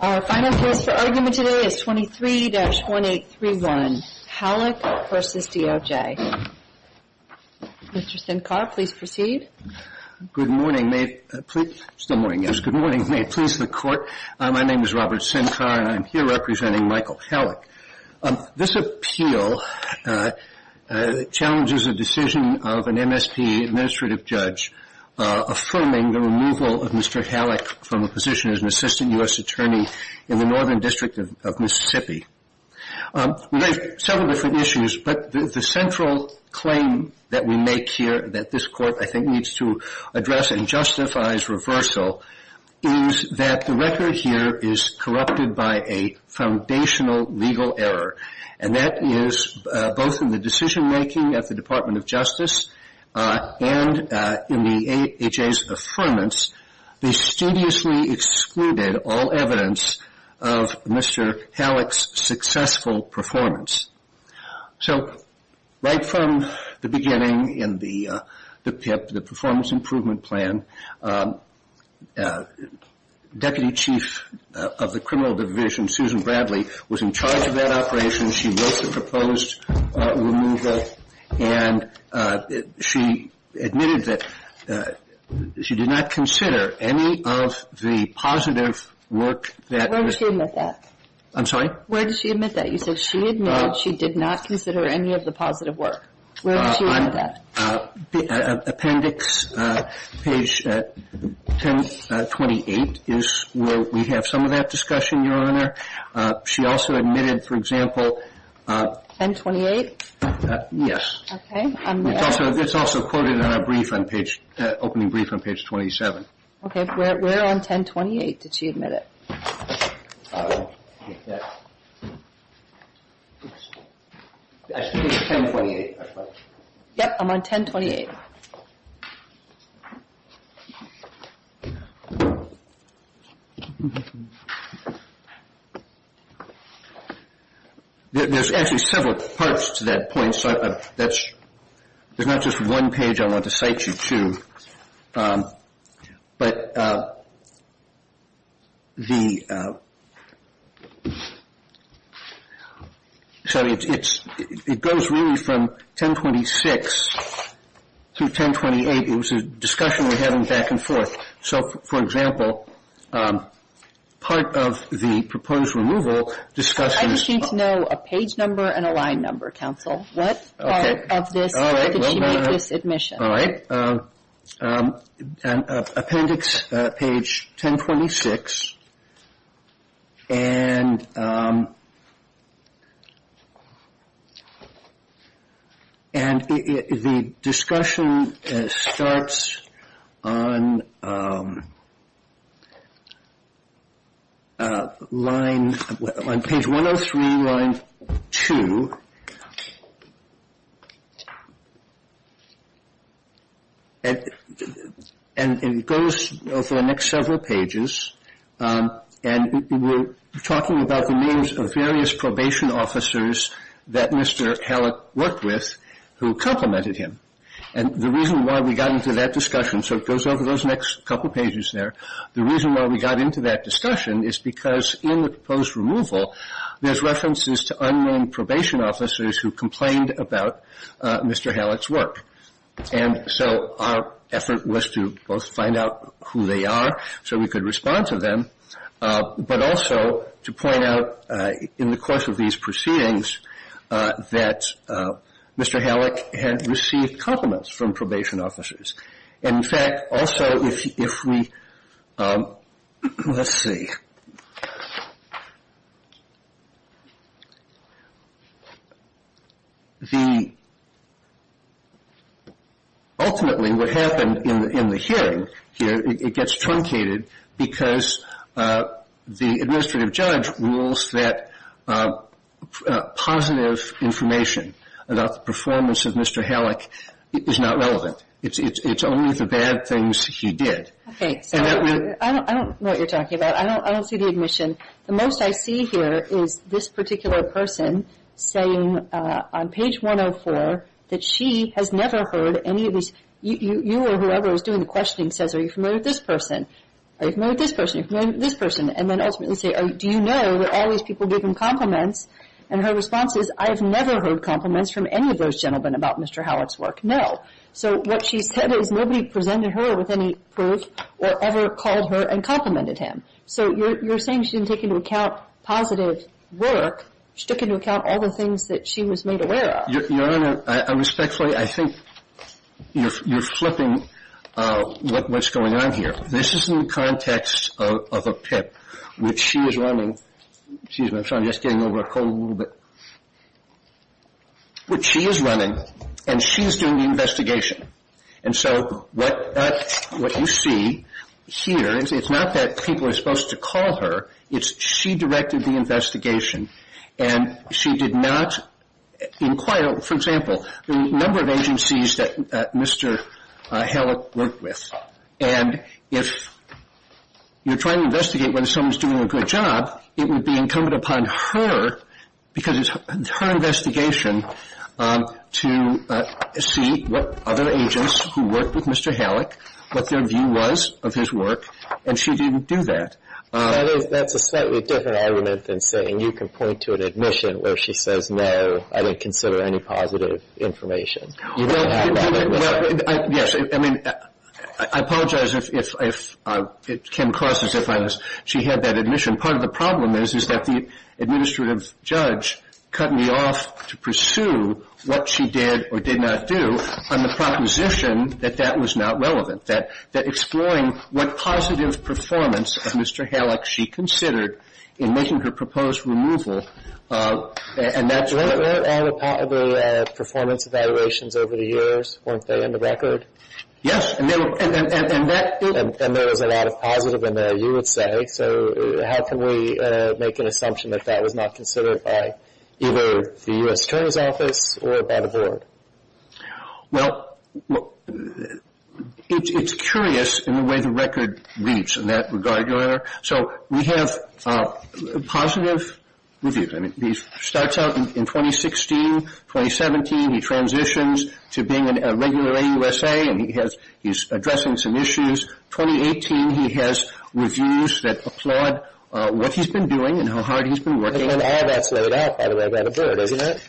Our final case for argument today is 23-1831 Hallock v. DOJ Mr. Sincar, please proceed. Good morning, may it please the court. My name is Robert Sincar and I'm here representing Michael Hallock. This appeal challenges a decision of an MSP administrative judge affirming the removal of Mr. Hallock from a position as an assistant U.S. attorney in the Northern District of Mississippi. We have several different issues, but the central claim that we make here that this court, I think, needs to address and justifies reversal is that the record here is corrupted by a foundational legal error. And that is, both in the decision making at the Department of Justice and in the AHA's affirmance, they studiously excluded all evidence of Mr. Hallock's successful performance. So, right from the beginning in the PIP, the Performance Improvement Plan, Deputy Chief of the Criminal Division, Susan Bradley, was in charge of that operation. She wrote the proposed removal and she admitted that she did not consider any of the positive work that was Where did she admit that? I'm sorry? Where did she admit that? You said she admitted she did not consider any of the positive work. Where did she admit that? Appendix page 1028 is where we have some of that discussion, Your Honor. She also admitted, for example 1028? Yes. Okay. It's also quoted in our brief on page, opening brief on page 27. Okay. Where on 1028 did she admit it? Page 1028. Yes, I'm on 1028. There's actually several parts to that point. There's not just one page I want to cite you to. But the Sorry, it goes really from 1026 to 1028. It was a discussion we had back and forth. So, for example, part of the proposed removal discussion I just need to know a page number and a line number, counsel. What part of this, where did she make this admission? All right. Appendix page 1026. And the discussion starts on line, on page 103, line 2. And it goes over the next several pages. And we're talking about the names of various probation officers that Mr. Hallett worked with who complimented him. And the reason why we got into that discussion, so it goes over those next couple pages there, the reason why we got into that discussion is because in the proposed removal there's references to unnamed probation officers who complained about Mr. Hallett's work. And so our effort was to both find out who they are so we could respond to them, but also to point out in the course of these proceedings that Mr. Hallett had received compliments from probation officers. And, in fact, also if we Let's see. The Ultimately what happened in the hearing here, it gets truncated because the administrative judge rules that positive information about the performance of Mr. Hallett is not relevant. It's only the bad things he did. Okay. I don't know what you're talking about. I don't see the admission. The most I see here is this particular person saying on page 104 that she has never heard any of these You or whoever is doing the questioning says, are you familiar with this person? Are you familiar with this person? Are you familiar with this person? And then ultimately say, do you know that all these people give him compliments? And her response is, I have never heard compliments from any of those gentlemen about Mr. Hallett's work. No. So what she said is nobody presented her with any proof or ever called her and complimented him. So you're saying she didn't take into account positive work. She took into account all the things that she was made aware of. Your Honor, respectfully, I think you're flipping what's going on here. This is in the context of a PIP, which she is running. Excuse me. I'm sorry. I'm just getting over a cold a little bit. Which she is running, and she's doing the investigation. And so what you see here, it's not that people are supposed to call her. It's she directed the investigation, and she did not inquire. For example, the number of agencies that Mr. Hallett worked with. And if you're trying to investigate whether someone's doing a good job, it would be incumbent upon her, because it's her investigation, to see what other agents who worked with Mr. Hallett, what their view was of his work. And she didn't do that. That's a slightly different argument than saying you can point to an admission where she says, no, I didn't consider any positive information. Well, yes. I mean, I apologize if it came across as if she had that admission. Part of the problem is that the administrative judge cut me off to pursue what she did or did not do on the proposition that that was not relevant, that exploring what positive performance of Mr. Hallett she considered in making her proposed removal. Were all the performance evaluations over the years, weren't they in the record? Yes. And there was a lot of positive in there, you would say. So how can we make an assumption that that was not considered by either the U.S. Attorney's Office or by the Board? Well, it's curious in the way the record reads in that regard, Your Honor. So we have positive reviews. I mean, he starts out in 2016, 2017, he transitions to being a regular AUSA and he's addressing some issues. 2018, he has reviews that applaud what he's been doing and how hard he's been working. And all that's laid out out of that record, isn't it?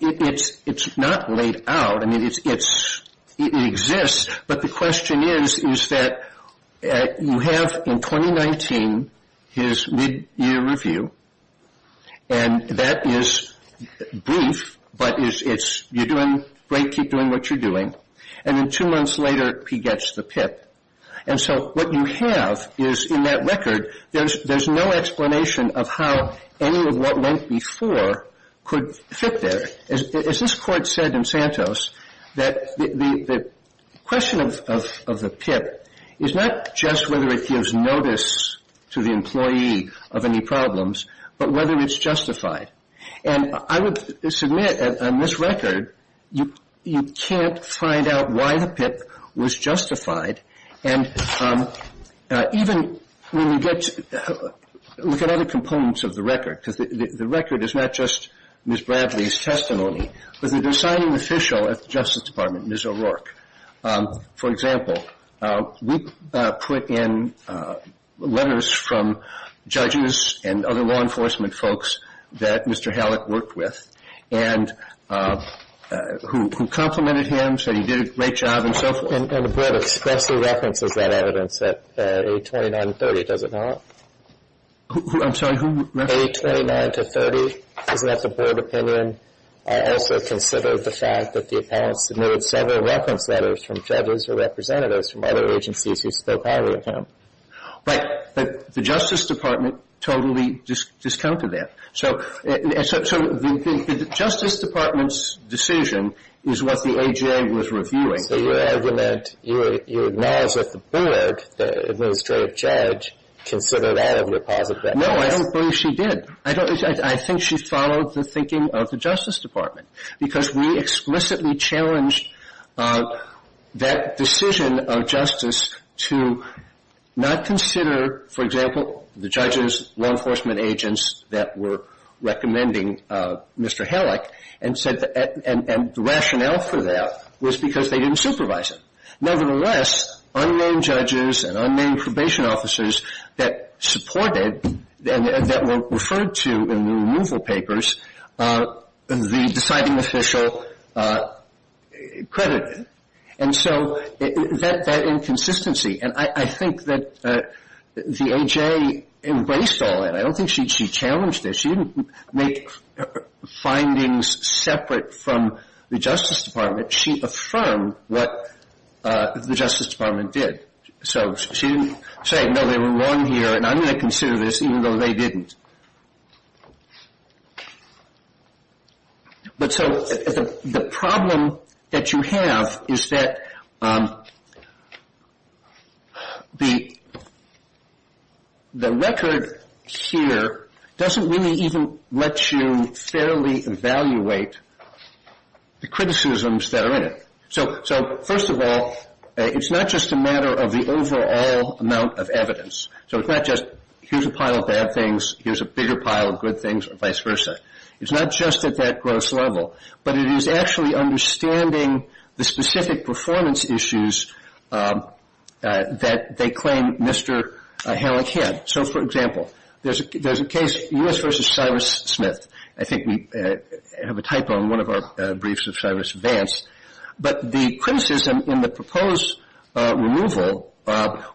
It's not laid out. I mean, it exists. But the question is, is that you have in 2019 his midyear review and that is brief, but it's you're doing great, keep doing what you're doing. And then two months later, he gets the PIP. And so what you have is in that record, there's no explanation of how any of what went before could fit there. As this Court said in Santos, that the question of the PIP is not just whether it gives notice to the employee of any problems, but whether it's justified. And I would submit on this record, you can't find out why the PIP was justified. And even when you get to look at other components of the record, because the record is not just Ms. Bradley's testimony, but the designing official at the Justice Department, Ms. O'Rourke. For example, we put in letters from judges and other law enforcement folks that Mr. Hallett worked with and who complimented him, said he did a great job and so forth. And the Board expressly references that evidence at 829-30, does it not? I'm sorry, who referenced that? 829-30. Isn't that the Board opinion? I also consider the fact that the appellant submitted several reference letters from judges or representatives from other agencies who spoke highly of him. Right. But the Justice Department totally discounted that. So the Justice Department's decision is what the AJA was reviewing. So your argument, you acknowledge that the Board, the administrative judge, considered that as a positive evidence. No, I don't believe she did. I think she followed the thinking of the Justice Department, because we explicitly challenged that decision of justice to not consider, for example, the judges, law enforcement agents that were recommending Mr. Hallett, and the rationale for that was because they didn't supervise him. Nevertheless, unnamed judges and unnamed probation officers that supported and that were referred to in the removal papers, the deciding official credited. And so that inconsistency, and I think that the AJA embraced all that. I don't think she challenged it. She didn't make findings separate from the Justice Department. She affirmed what the Justice Department did. So she didn't say, no, they were wrong here, and I'm going to consider this even though they didn't. But so the problem that you have is that the record here doesn't really even let you fairly evaluate the criticisms that are in it. So first of all, it's not just a matter of the overall amount of evidence. So it's not just here's a pile of bad things, here's a bigger pile of good things, or vice versa. It's not just at that gross level. But it is actually understanding the specific performance issues that they claim Mr. Hallett had. So, for example, there's a case, U.S. v. Cyrus Smith. I think we have a typo in one of our briefs of Cyrus Vance. But the criticism in the proposed removal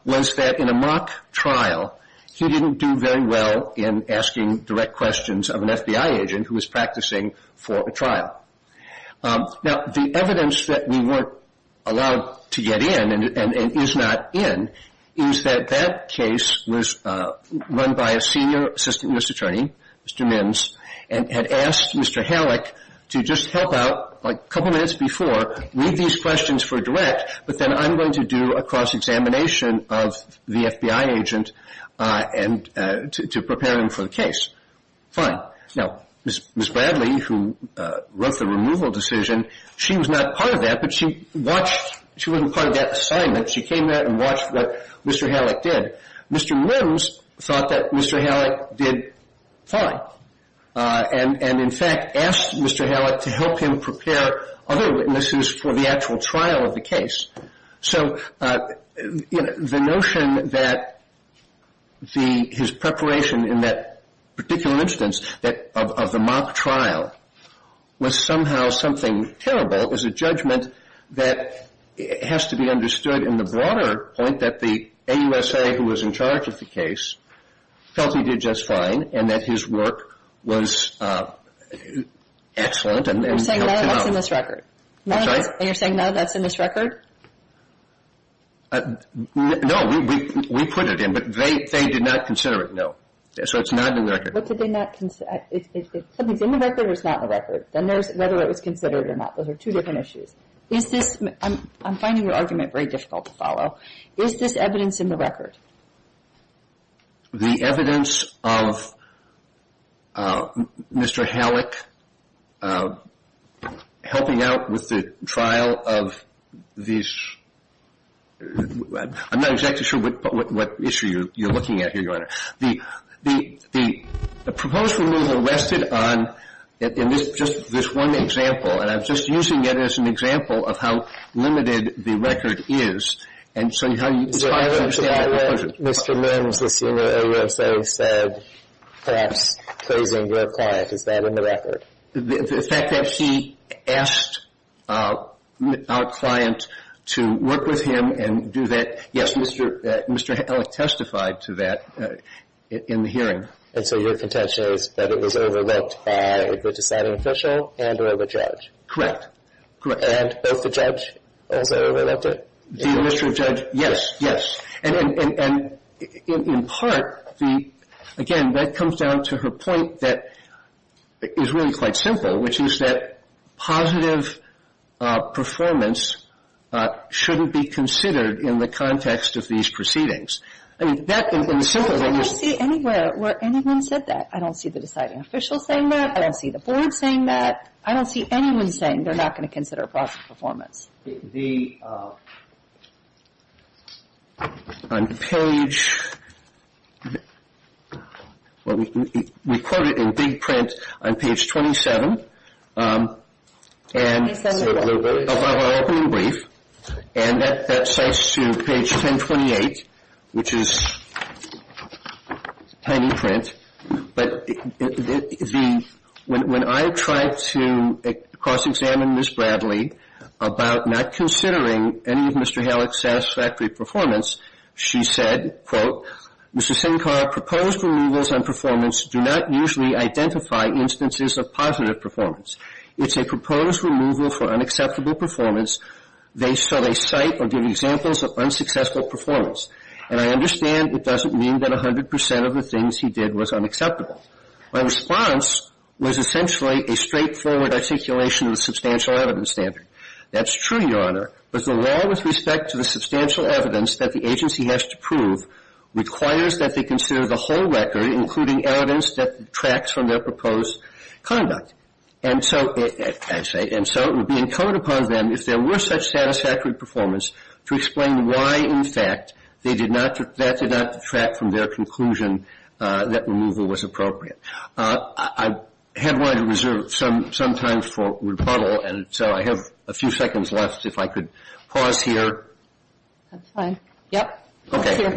was that in a mock trial, he didn't do very well in asking direct questions of an FBI agent who was practicing for a trial. Now, the evidence that we weren't allowed to get in and is not in is that that case was run by a senior assistant U.S. attorney, Mr. Mims, and had asked Mr. Hallett to just help out like a couple minutes before, read these questions for direct, but then I'm going to do a cross-examination of the FBI agent to prepare him for the case. Fine. Now, Ms. Bradley, who wrote the removal decision, she was not part of that, but she watched. She wasn't part of that assignment. She came there and watched what Mr. Hallett did. Mr. Mims thought that Mr. Hallett did fine and, in fact, asked Mr. Hallett to help him prepare other witnesses for the actual trial of the case. So, you know, the notion that his preparation in that particular instance of the mock trial was somehow something terrible is a judgment that has to be understood in the broader point that the AUSA who was in charge of the case felt he did just fine and that his work was excellent. You're saying now that's in this record? I'm sorry? You're saying now that's in this record? No. We put it in, but they did not consider it, no. So it's not in the record. What did they not consider? If something's in the record or it's not in the record, then there's whether it was considered or not. Those are two different issues. Is this – I'm finding your argument very difficult to follow. Is this evidence in the record? The evidence of Mr. Hallett helping out with the trial of these – I'm not exactly sure what issue you're looking at here, Your Honor. The proposed removal rested on – and this is just this one example, and I'm just using it as an example of how limited the record is. And so how you – So I understand that Mr. Mims, the senior OSO, said perhaps closing the client. Is that in the record? The fact that he asked our client to work with him and do that – yes, Mr. Hallett testified to that. And so your contention is that it was overlooked by the deciding official and or the judge? Correct. Correct. And both the judge also overlooked it? The illustrious judge, yes, yes. And in part, the – again, that comes down to her point that is really quite simple, which is that positive performance shouldn't be considered in the context of these proceedings. I mean, that – I don't see anywhere where anyone said that. I don't see the deciding official saying that. I don't see the board saying that. I don't see anyone saying they're not going to consider positive performance. The – on page – well, we quote it in big print on page 27. Let me send it over. I have an opening brief, and that cites to page 1028, which is tiny print. But the – when I tried to cross-examine Ms. Bradley about not considering any of Mr. Hallett's satisfactory performance, she said, quote, Mr. Sinkar, proposed removals on performance do not usually identify instances of positive performance. It's a proposed removal for unacceptable performance, so they cite or give examples of unsuccessful performance. And I understand it doesn't mean that 100 percent of the things he did was unacceptable. My response was essentially a straightforward articulation of the substantial evidence standard. That's true, Your Honor, but the law with respect to the substantial evidence that the agency has to prove requires that they consider the whole record, including evidence that detracts from their proposed conduct. And so – and so it would be incumbent upon them, if there were such satisfactory performance, to explain why, in fact, they did not – that did not detract from their conclusion that removal was appropriate. I had wanted to reserve some time for rebuttal, and so I have a few seconds left. If I could pause here. That's fine. Yep. Okay.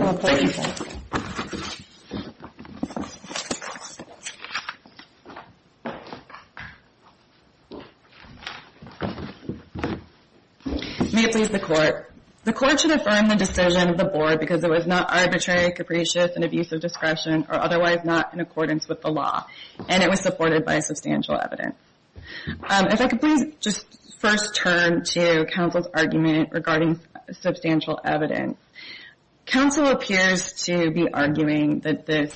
May it please the Court. The Court should affirm the decision of the Board because it was not arbitrary, capricious, and of use of discretion or otherwise not in accordance with the law, and it was supported by substantial evidence. If I could please just first turn to counsel's argument regarding substantial evidence. Counsel appears to be arguing that this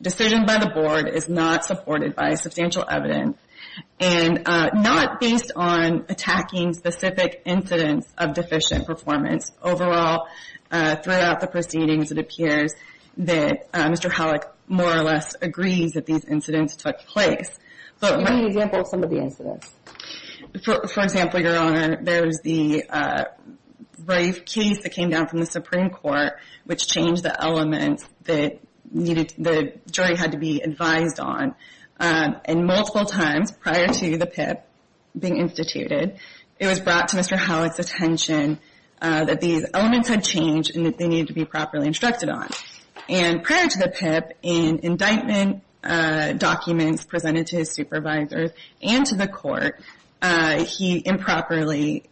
decision by the Board is not supported by substantial evidence and not based on attacking specific incidents of deficient performance. Overall, throughout the proceedings, it appears that Mr. Howlick more or less agrees that these incidents took place. Give me an example of some of the incidents. For example, Your Honor, there was the Rafe case that came down from the Supreme Court, which changed the elements that the jury had to be advised on. And multiple times prior to the PIP being instituted, it was brought to Mr. Howlick's attention that these elements had changed and that they needed to be properly instructed on. And prior to the PIP, in indictment documents presented to his supervisors and to the Court, he improperly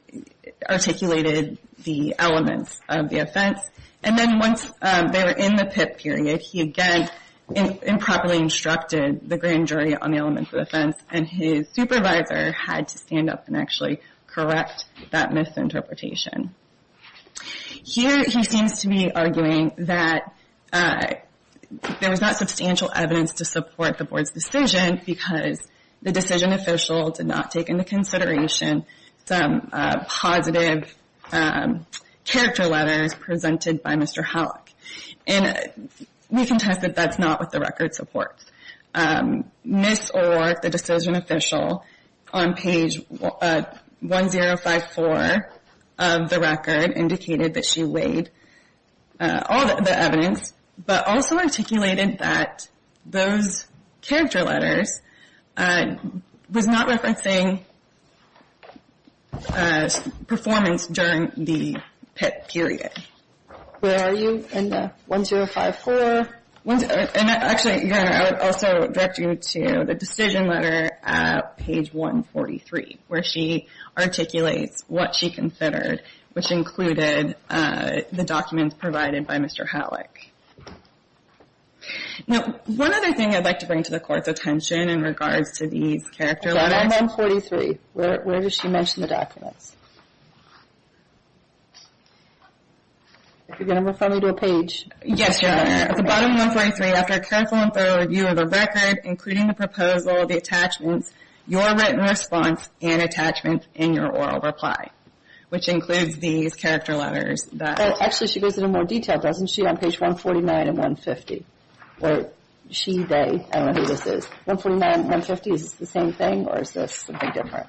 articulated the elements of the offense. And then once they were in the PIP period, he again improperly instructed the grand jury on the elements of the offense, and his supervisor had to stand up and actually correct that misinterpretation. Here he seems to be arguing that there was not substantial evidence to support the Board's decision because the decision official did not take into consideration some positive character letters presented by Mr. Howlick. And we contest that that's not what the record supports. Ms. Orr, the decision official, on page 1054 of the record, indicated that she weighed all the evidence, but also articulated that those character letters was not referencing performance during the PIP period. Where are you in the 1054? And actually, Your Honor, I would also direct you to the decision letter at page 143, where she articulates what she considered, which included the documents provided by Mr. Howlick. Now, one other thing I'd like to bring to the Court's attention in regards to these character letters. 1143, where does she mention the documents? If you're going to refer me to a page. Yes, Your Honor. At the bottom of 143, after a careful and thorough review of the record, including the proposal, the attachments, your written response, and attachment in your oral reply, which includes these character letters. Actually, she goes into more detail, doesn't she, on page 149 and 150? Where she, they, I don't know who this is. 149 and 150, is this the same thing, or is this something different?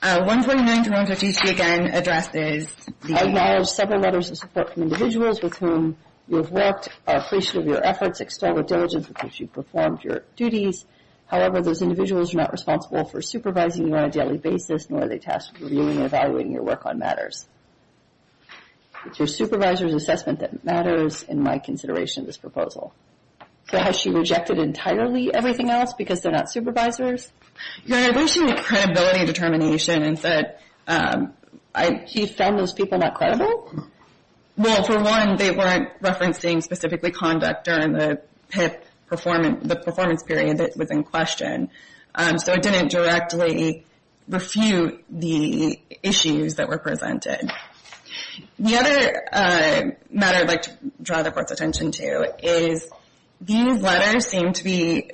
149 to 150, she again addressed is the... She acknowledged several letters of support from individuals with whom you have worked, are appreciative of your efforts, extol the diligence with which you've performed your duties. However, those individuals are not responsible for supervising you on a daily basis, nor are they tasked with reviewing and evaluating your work on matters. It's your supervisor's assessment that matters in my consideration of this proposal. So has she rejected entirely everything else because they're not supervisors? Your Honor, I believe she made a credibility determination and said... She found those people not credible? Well, for one, they weren't referencing specifically conduct during the PIP performance, the performance period that was in question. So it didn't directly refute the issues that were presented. The other matter I'd like to draw the Court's attention to is these letters seem to be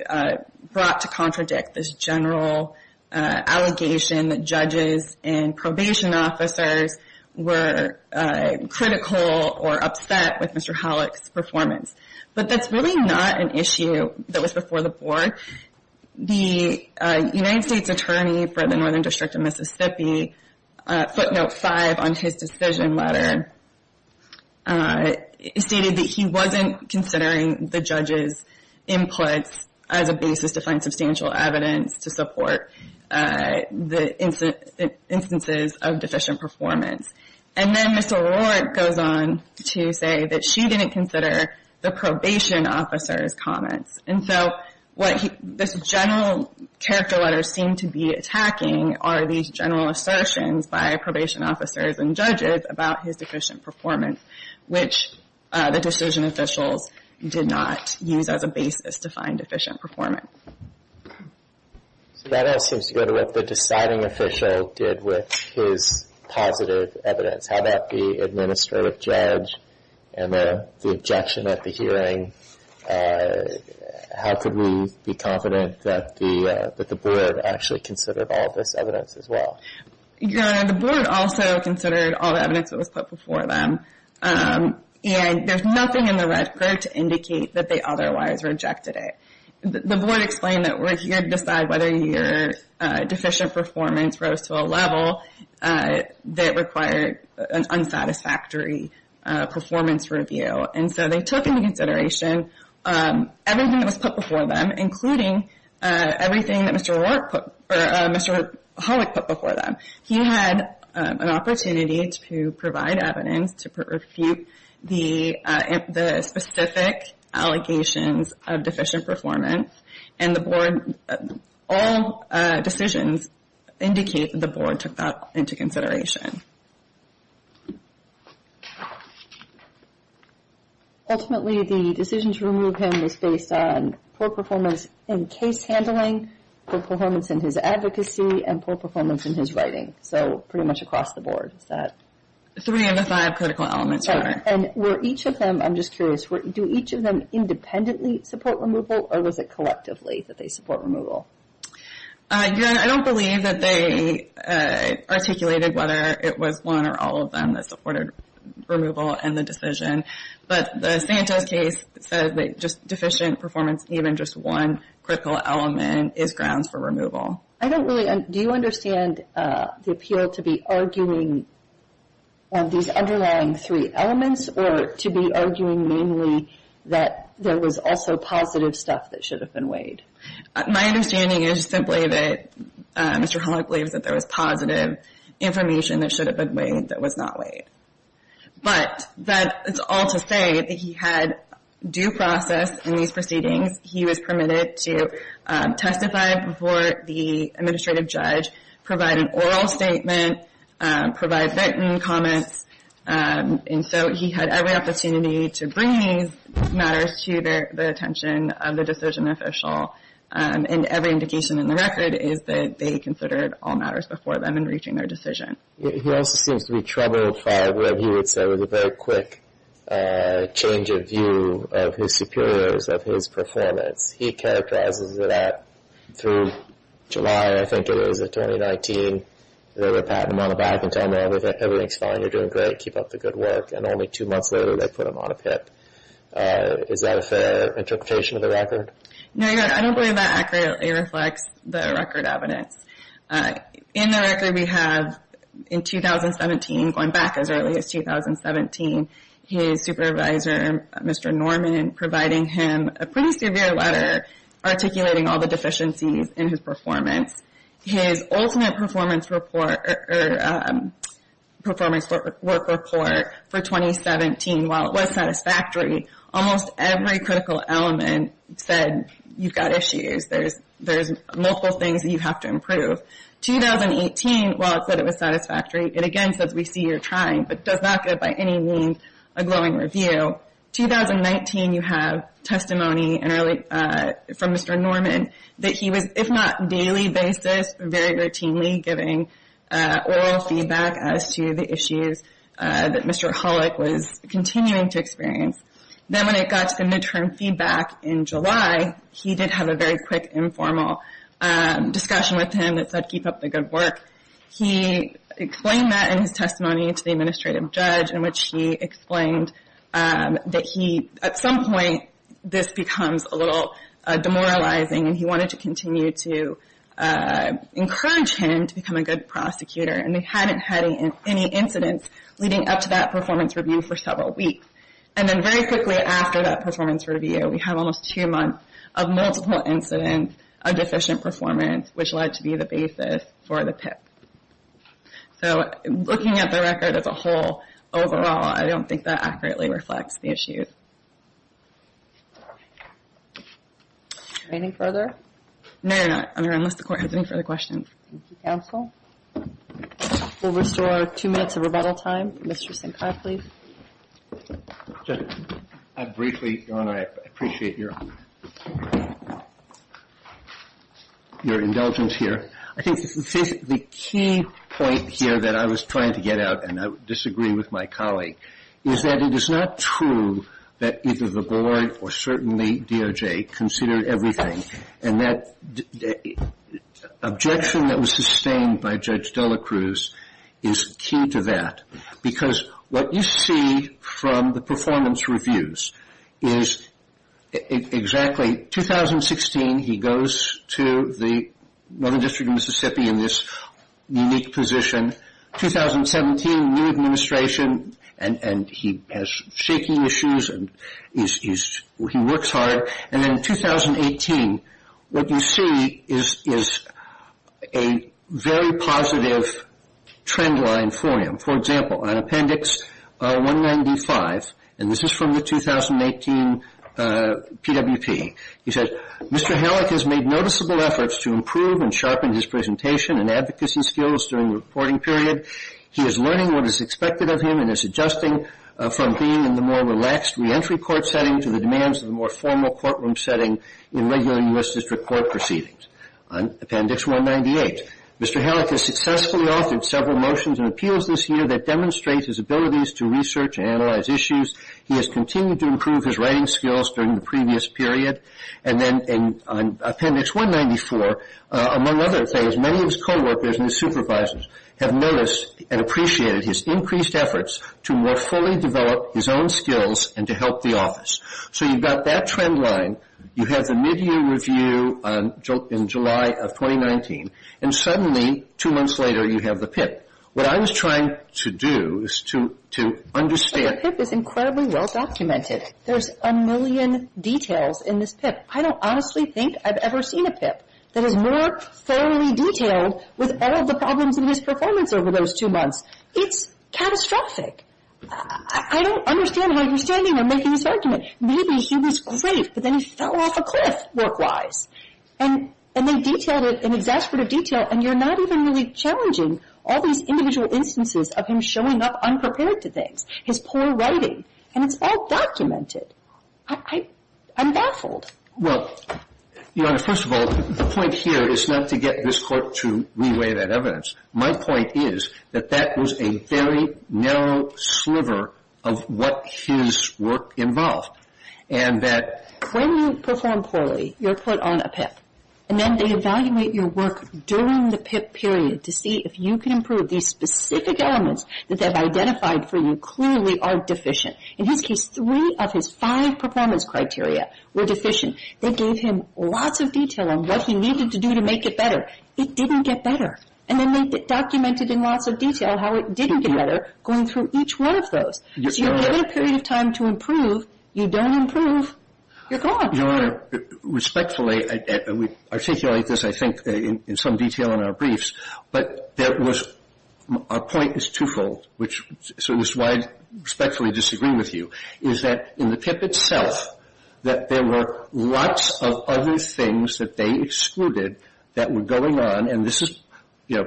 brought to contradict this general allegation that judges and probation officers were critical or upset with Mr. Hollick's performance. But that's really not an issue that was before the Board. The United States Attorney for the Northern District of Mississippi, footnote 5 on his decision letter, stated that he wasn't considering the judge's inputs as a basis to find substantial evidence to support the instances of deficient performance. And then Ms. O'Rourke goes on to say that she didn't consider the probation officer's comments. And so what this general character letter seemed to be attacking are these general assertions by probation officers and judges about his deficient performance, which the decision officials did not use as a basis to find deficient performance. So that seems to go to what the deciding official did with his positive evidence. How about the administrative judge and the objection at the hearing? How could we be confident that the Board actually considered all this evidence as well? Your Honor, the Board also considered all the evidence that was put before them. And there's nothing in the record to indicate that they otherwise rejected it. The Board explained that we're here to decide whether your deficient performance rose to a level that required an unsatisfactory performance review. And so they took into consideration everything that was put before them, including everything that Mr. Horwick put before them. He had an opportunity to provide evidence to refute the specific allegations of deficient performance. And all decisions indicate that the Board took that into consideration. Ultimately, the decision to remove him was based on poor performance in case handling, poor performance in his advocacy, and poor performance in his writing. So pretty much across the Board. Three of the five critical elements, Your Honor. And were each of them, I'm just curious, do each of them independently support removal, or was it collectively that they support removal? Your Honor, I don't believe that they articulated whether it was one or all of them that supported removal in the decision. But the Santos case says that just deficient performance, even just one critical element, is grounds for removal. I don't really understand. Do you understand the appeal to be arguing these underlying three elements, or to be arguing mainly that there was also positive stuff that should have been weighed? My understanding is simply that Mr. Horwick believes that there was positive information that should have been weighed that was not weighed. But that is all to say that he had due process in these proceedings. He was permitted to testify before the administrative judge, provide an oral statement, provide written comments. And so he had every opportunity to bring these matters to the attention of the decision official. And every indication in the record is that they considered all matters before them in reaching their decision. He also seems to be troubled by what he would say was a very quick change of view of his superiors, of his performance. He characterizes that through July, I think it was, of 2019, they would pat him on the back and tell him, everything's fine, you're doing great, keep up the good work. And only two months later they put him on a pit. Is that a fair interpretation of the record? No, your honor, I don't believe that accurately reflects the record evidence. In the record we have, in 2017, going back as early as 2017, his supervisor, Mr. Norman, providing him a pretty severe letter articulating all the deficiencies in his performance. His ultimate performance report, or performance work report for 2017, while it was satisfactory, almost every critical element said, you've got issues, there's multiple things that you have to improve. 2018, while it said it was satisfactory, it again says, we see you're trying, but does not get by any means a glowing review. 2019, you have testimony from Mr. Norman that he was, if not daily basis, very routinely giving oral feedback as to the issues that Mr. Hollick was continuing to experience. Then when it got to the midterm feedback in July, he did have a very quick informal discussion with him that said, keep up the good work. He explained that in his testimony to the administrative judge, in which he explained that he, at some point, this becomes a little demoralizing. He wanted to continue to encourage him to become a good prosecutor. They hadn't had any incidents leading up to that performance review for several weeks. Then very quickly after that performance review, we have almost two months of multiple incidents of deficient performance, which led to be the basis for the PIP. So looking at the record as a whole, overall, I don't think that accurately reflects the issues. Any further? No, no, no. Unless the court has any further questions. Thank you, counsel. We'll restore two minutes of rebuttal time. Mr. Sinkai, please. Just briefly, Your Honor, I appreciate your indulgence here. I think the key point here that I was trying to get out, and I disagree with my colleague, is that it is not true that either the board or certainly DOJ considered everything, and that objection that was sustained by Judge Dela Cruz is key to that, because what you see from the performance reviews is exactly, okay, 2016, he goes to the Northern District of Mississippi in this unique position. 2017, new administration, and he has shaking issues and he works hard. And then 2018, what you see is a very positive trend line for him. For example, on Appendix 195, and this is from the 2018 PWP, he says, Mr. Halleck has made noticeable efforts to improve and sharpen his presentation and advocacy skills during the reporting period. He is learning what is expected of him and is adjusting from being in the more relaxed reentry court setting to the demands of the more formal courtroom setting in regular U.S. District Court proceedings. On Appendix 198, Mr. Halleck has successfully authored several motions and appeals this year that demonstrate his abilities to research and analyze issues. He has continued to improve his writing skills during the previous period. And then on Appendix 194, among other things, many of his coworkers and his supervisors have noticed and appreciated his increased efforts to more fully develop his own skills and to help the office. So you've got that trend line. You have the mid-year review in July of 2019. And suddenly, two months later, you have the PIP. What I was trying to do is to understand. The PIP is incredibly well-documented. There's a million details in this PIP. I don't honestly think I've ever seen a PIP that is more thoroughly detailed with all of the problems in his performance over those two months. It's catastrophic. I don't understand how you're standing on making this argument. Maybe he was great, but then he fell off a cliff work-wise. And they detailed it in exasperated detail, and you're not even really challenging all these individual instances of him showing up unprepared to things, his poor writing. And it's all documented. I'm baffled. Well, Your Honor, first of all, the point here is not to get this Court to re-weigh that evidence. My point is that that was a very narrow sliver of what his work involved. And that when you perform poorly, you're put on a PIP. And then they evaluate your work during the PIP period to see if you can improve. These specific elements that they've identified for you clearly are deficient. In his case, three of his five performance criteria were deficient. They gave him lots of detail on what he needed to do to make it better. It didn't get better. And then they documented in lots of detail how it didn't get better, going through each one of those. If you're given a period of time to improve, you don't improve, you're gone. Your Honor, respectfully, we articulate this, I think, in some detail in our briefs, but there was – our point is twofold, which is why I respectfully disagree with you, is that in the PIP itself, that there were lots of other things that they excluded that were going on, and this is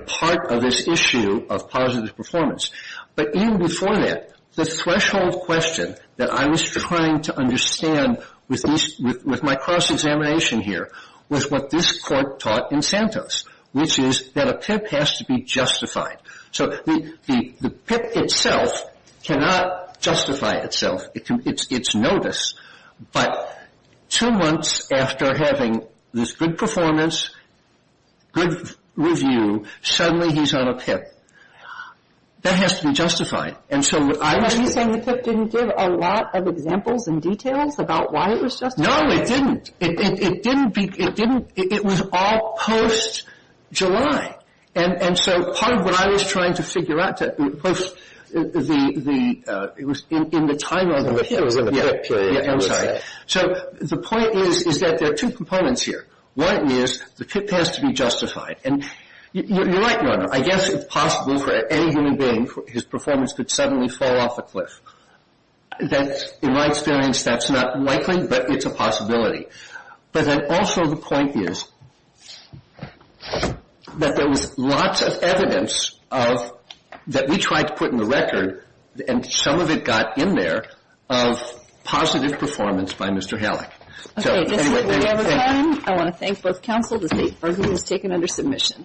part of this issue of positive performance. But even before that, the threshold question that I was trying to understand with my cross-examination here was what this court taught in Santos, which is that a PIP has to be justified. So the PIP itself cannot justify itself. It's notice. But two months after having this good performance, good review, suddenly he's on a PIP. That has to be justified. And so what I was – Are you saying the PIP didn't give a lot of examples and details about why it was justified? No, it didn't. It didn't be – it didn't – it was all post-July. And so part of what I was trying to figure out was the – it was in the title of the PIP. It was in the PIP. Yeah, I'm sorry. So the point is, is that there are two components here. One is the PIP has to be justified. And you're right, Your Honor, I guess it's possible for any human being, his performance could suddenly fall off a cliff. In my experience, that's not likely, but it's a possibility. But then also the point is that there was lots of evidence of – that we tried to put in the record, and some of it got in there, of positive performance by Mr. Halleck. Okay, this is it. We have our time. I want to thank both counsel. The State Bargaining is taken under submission.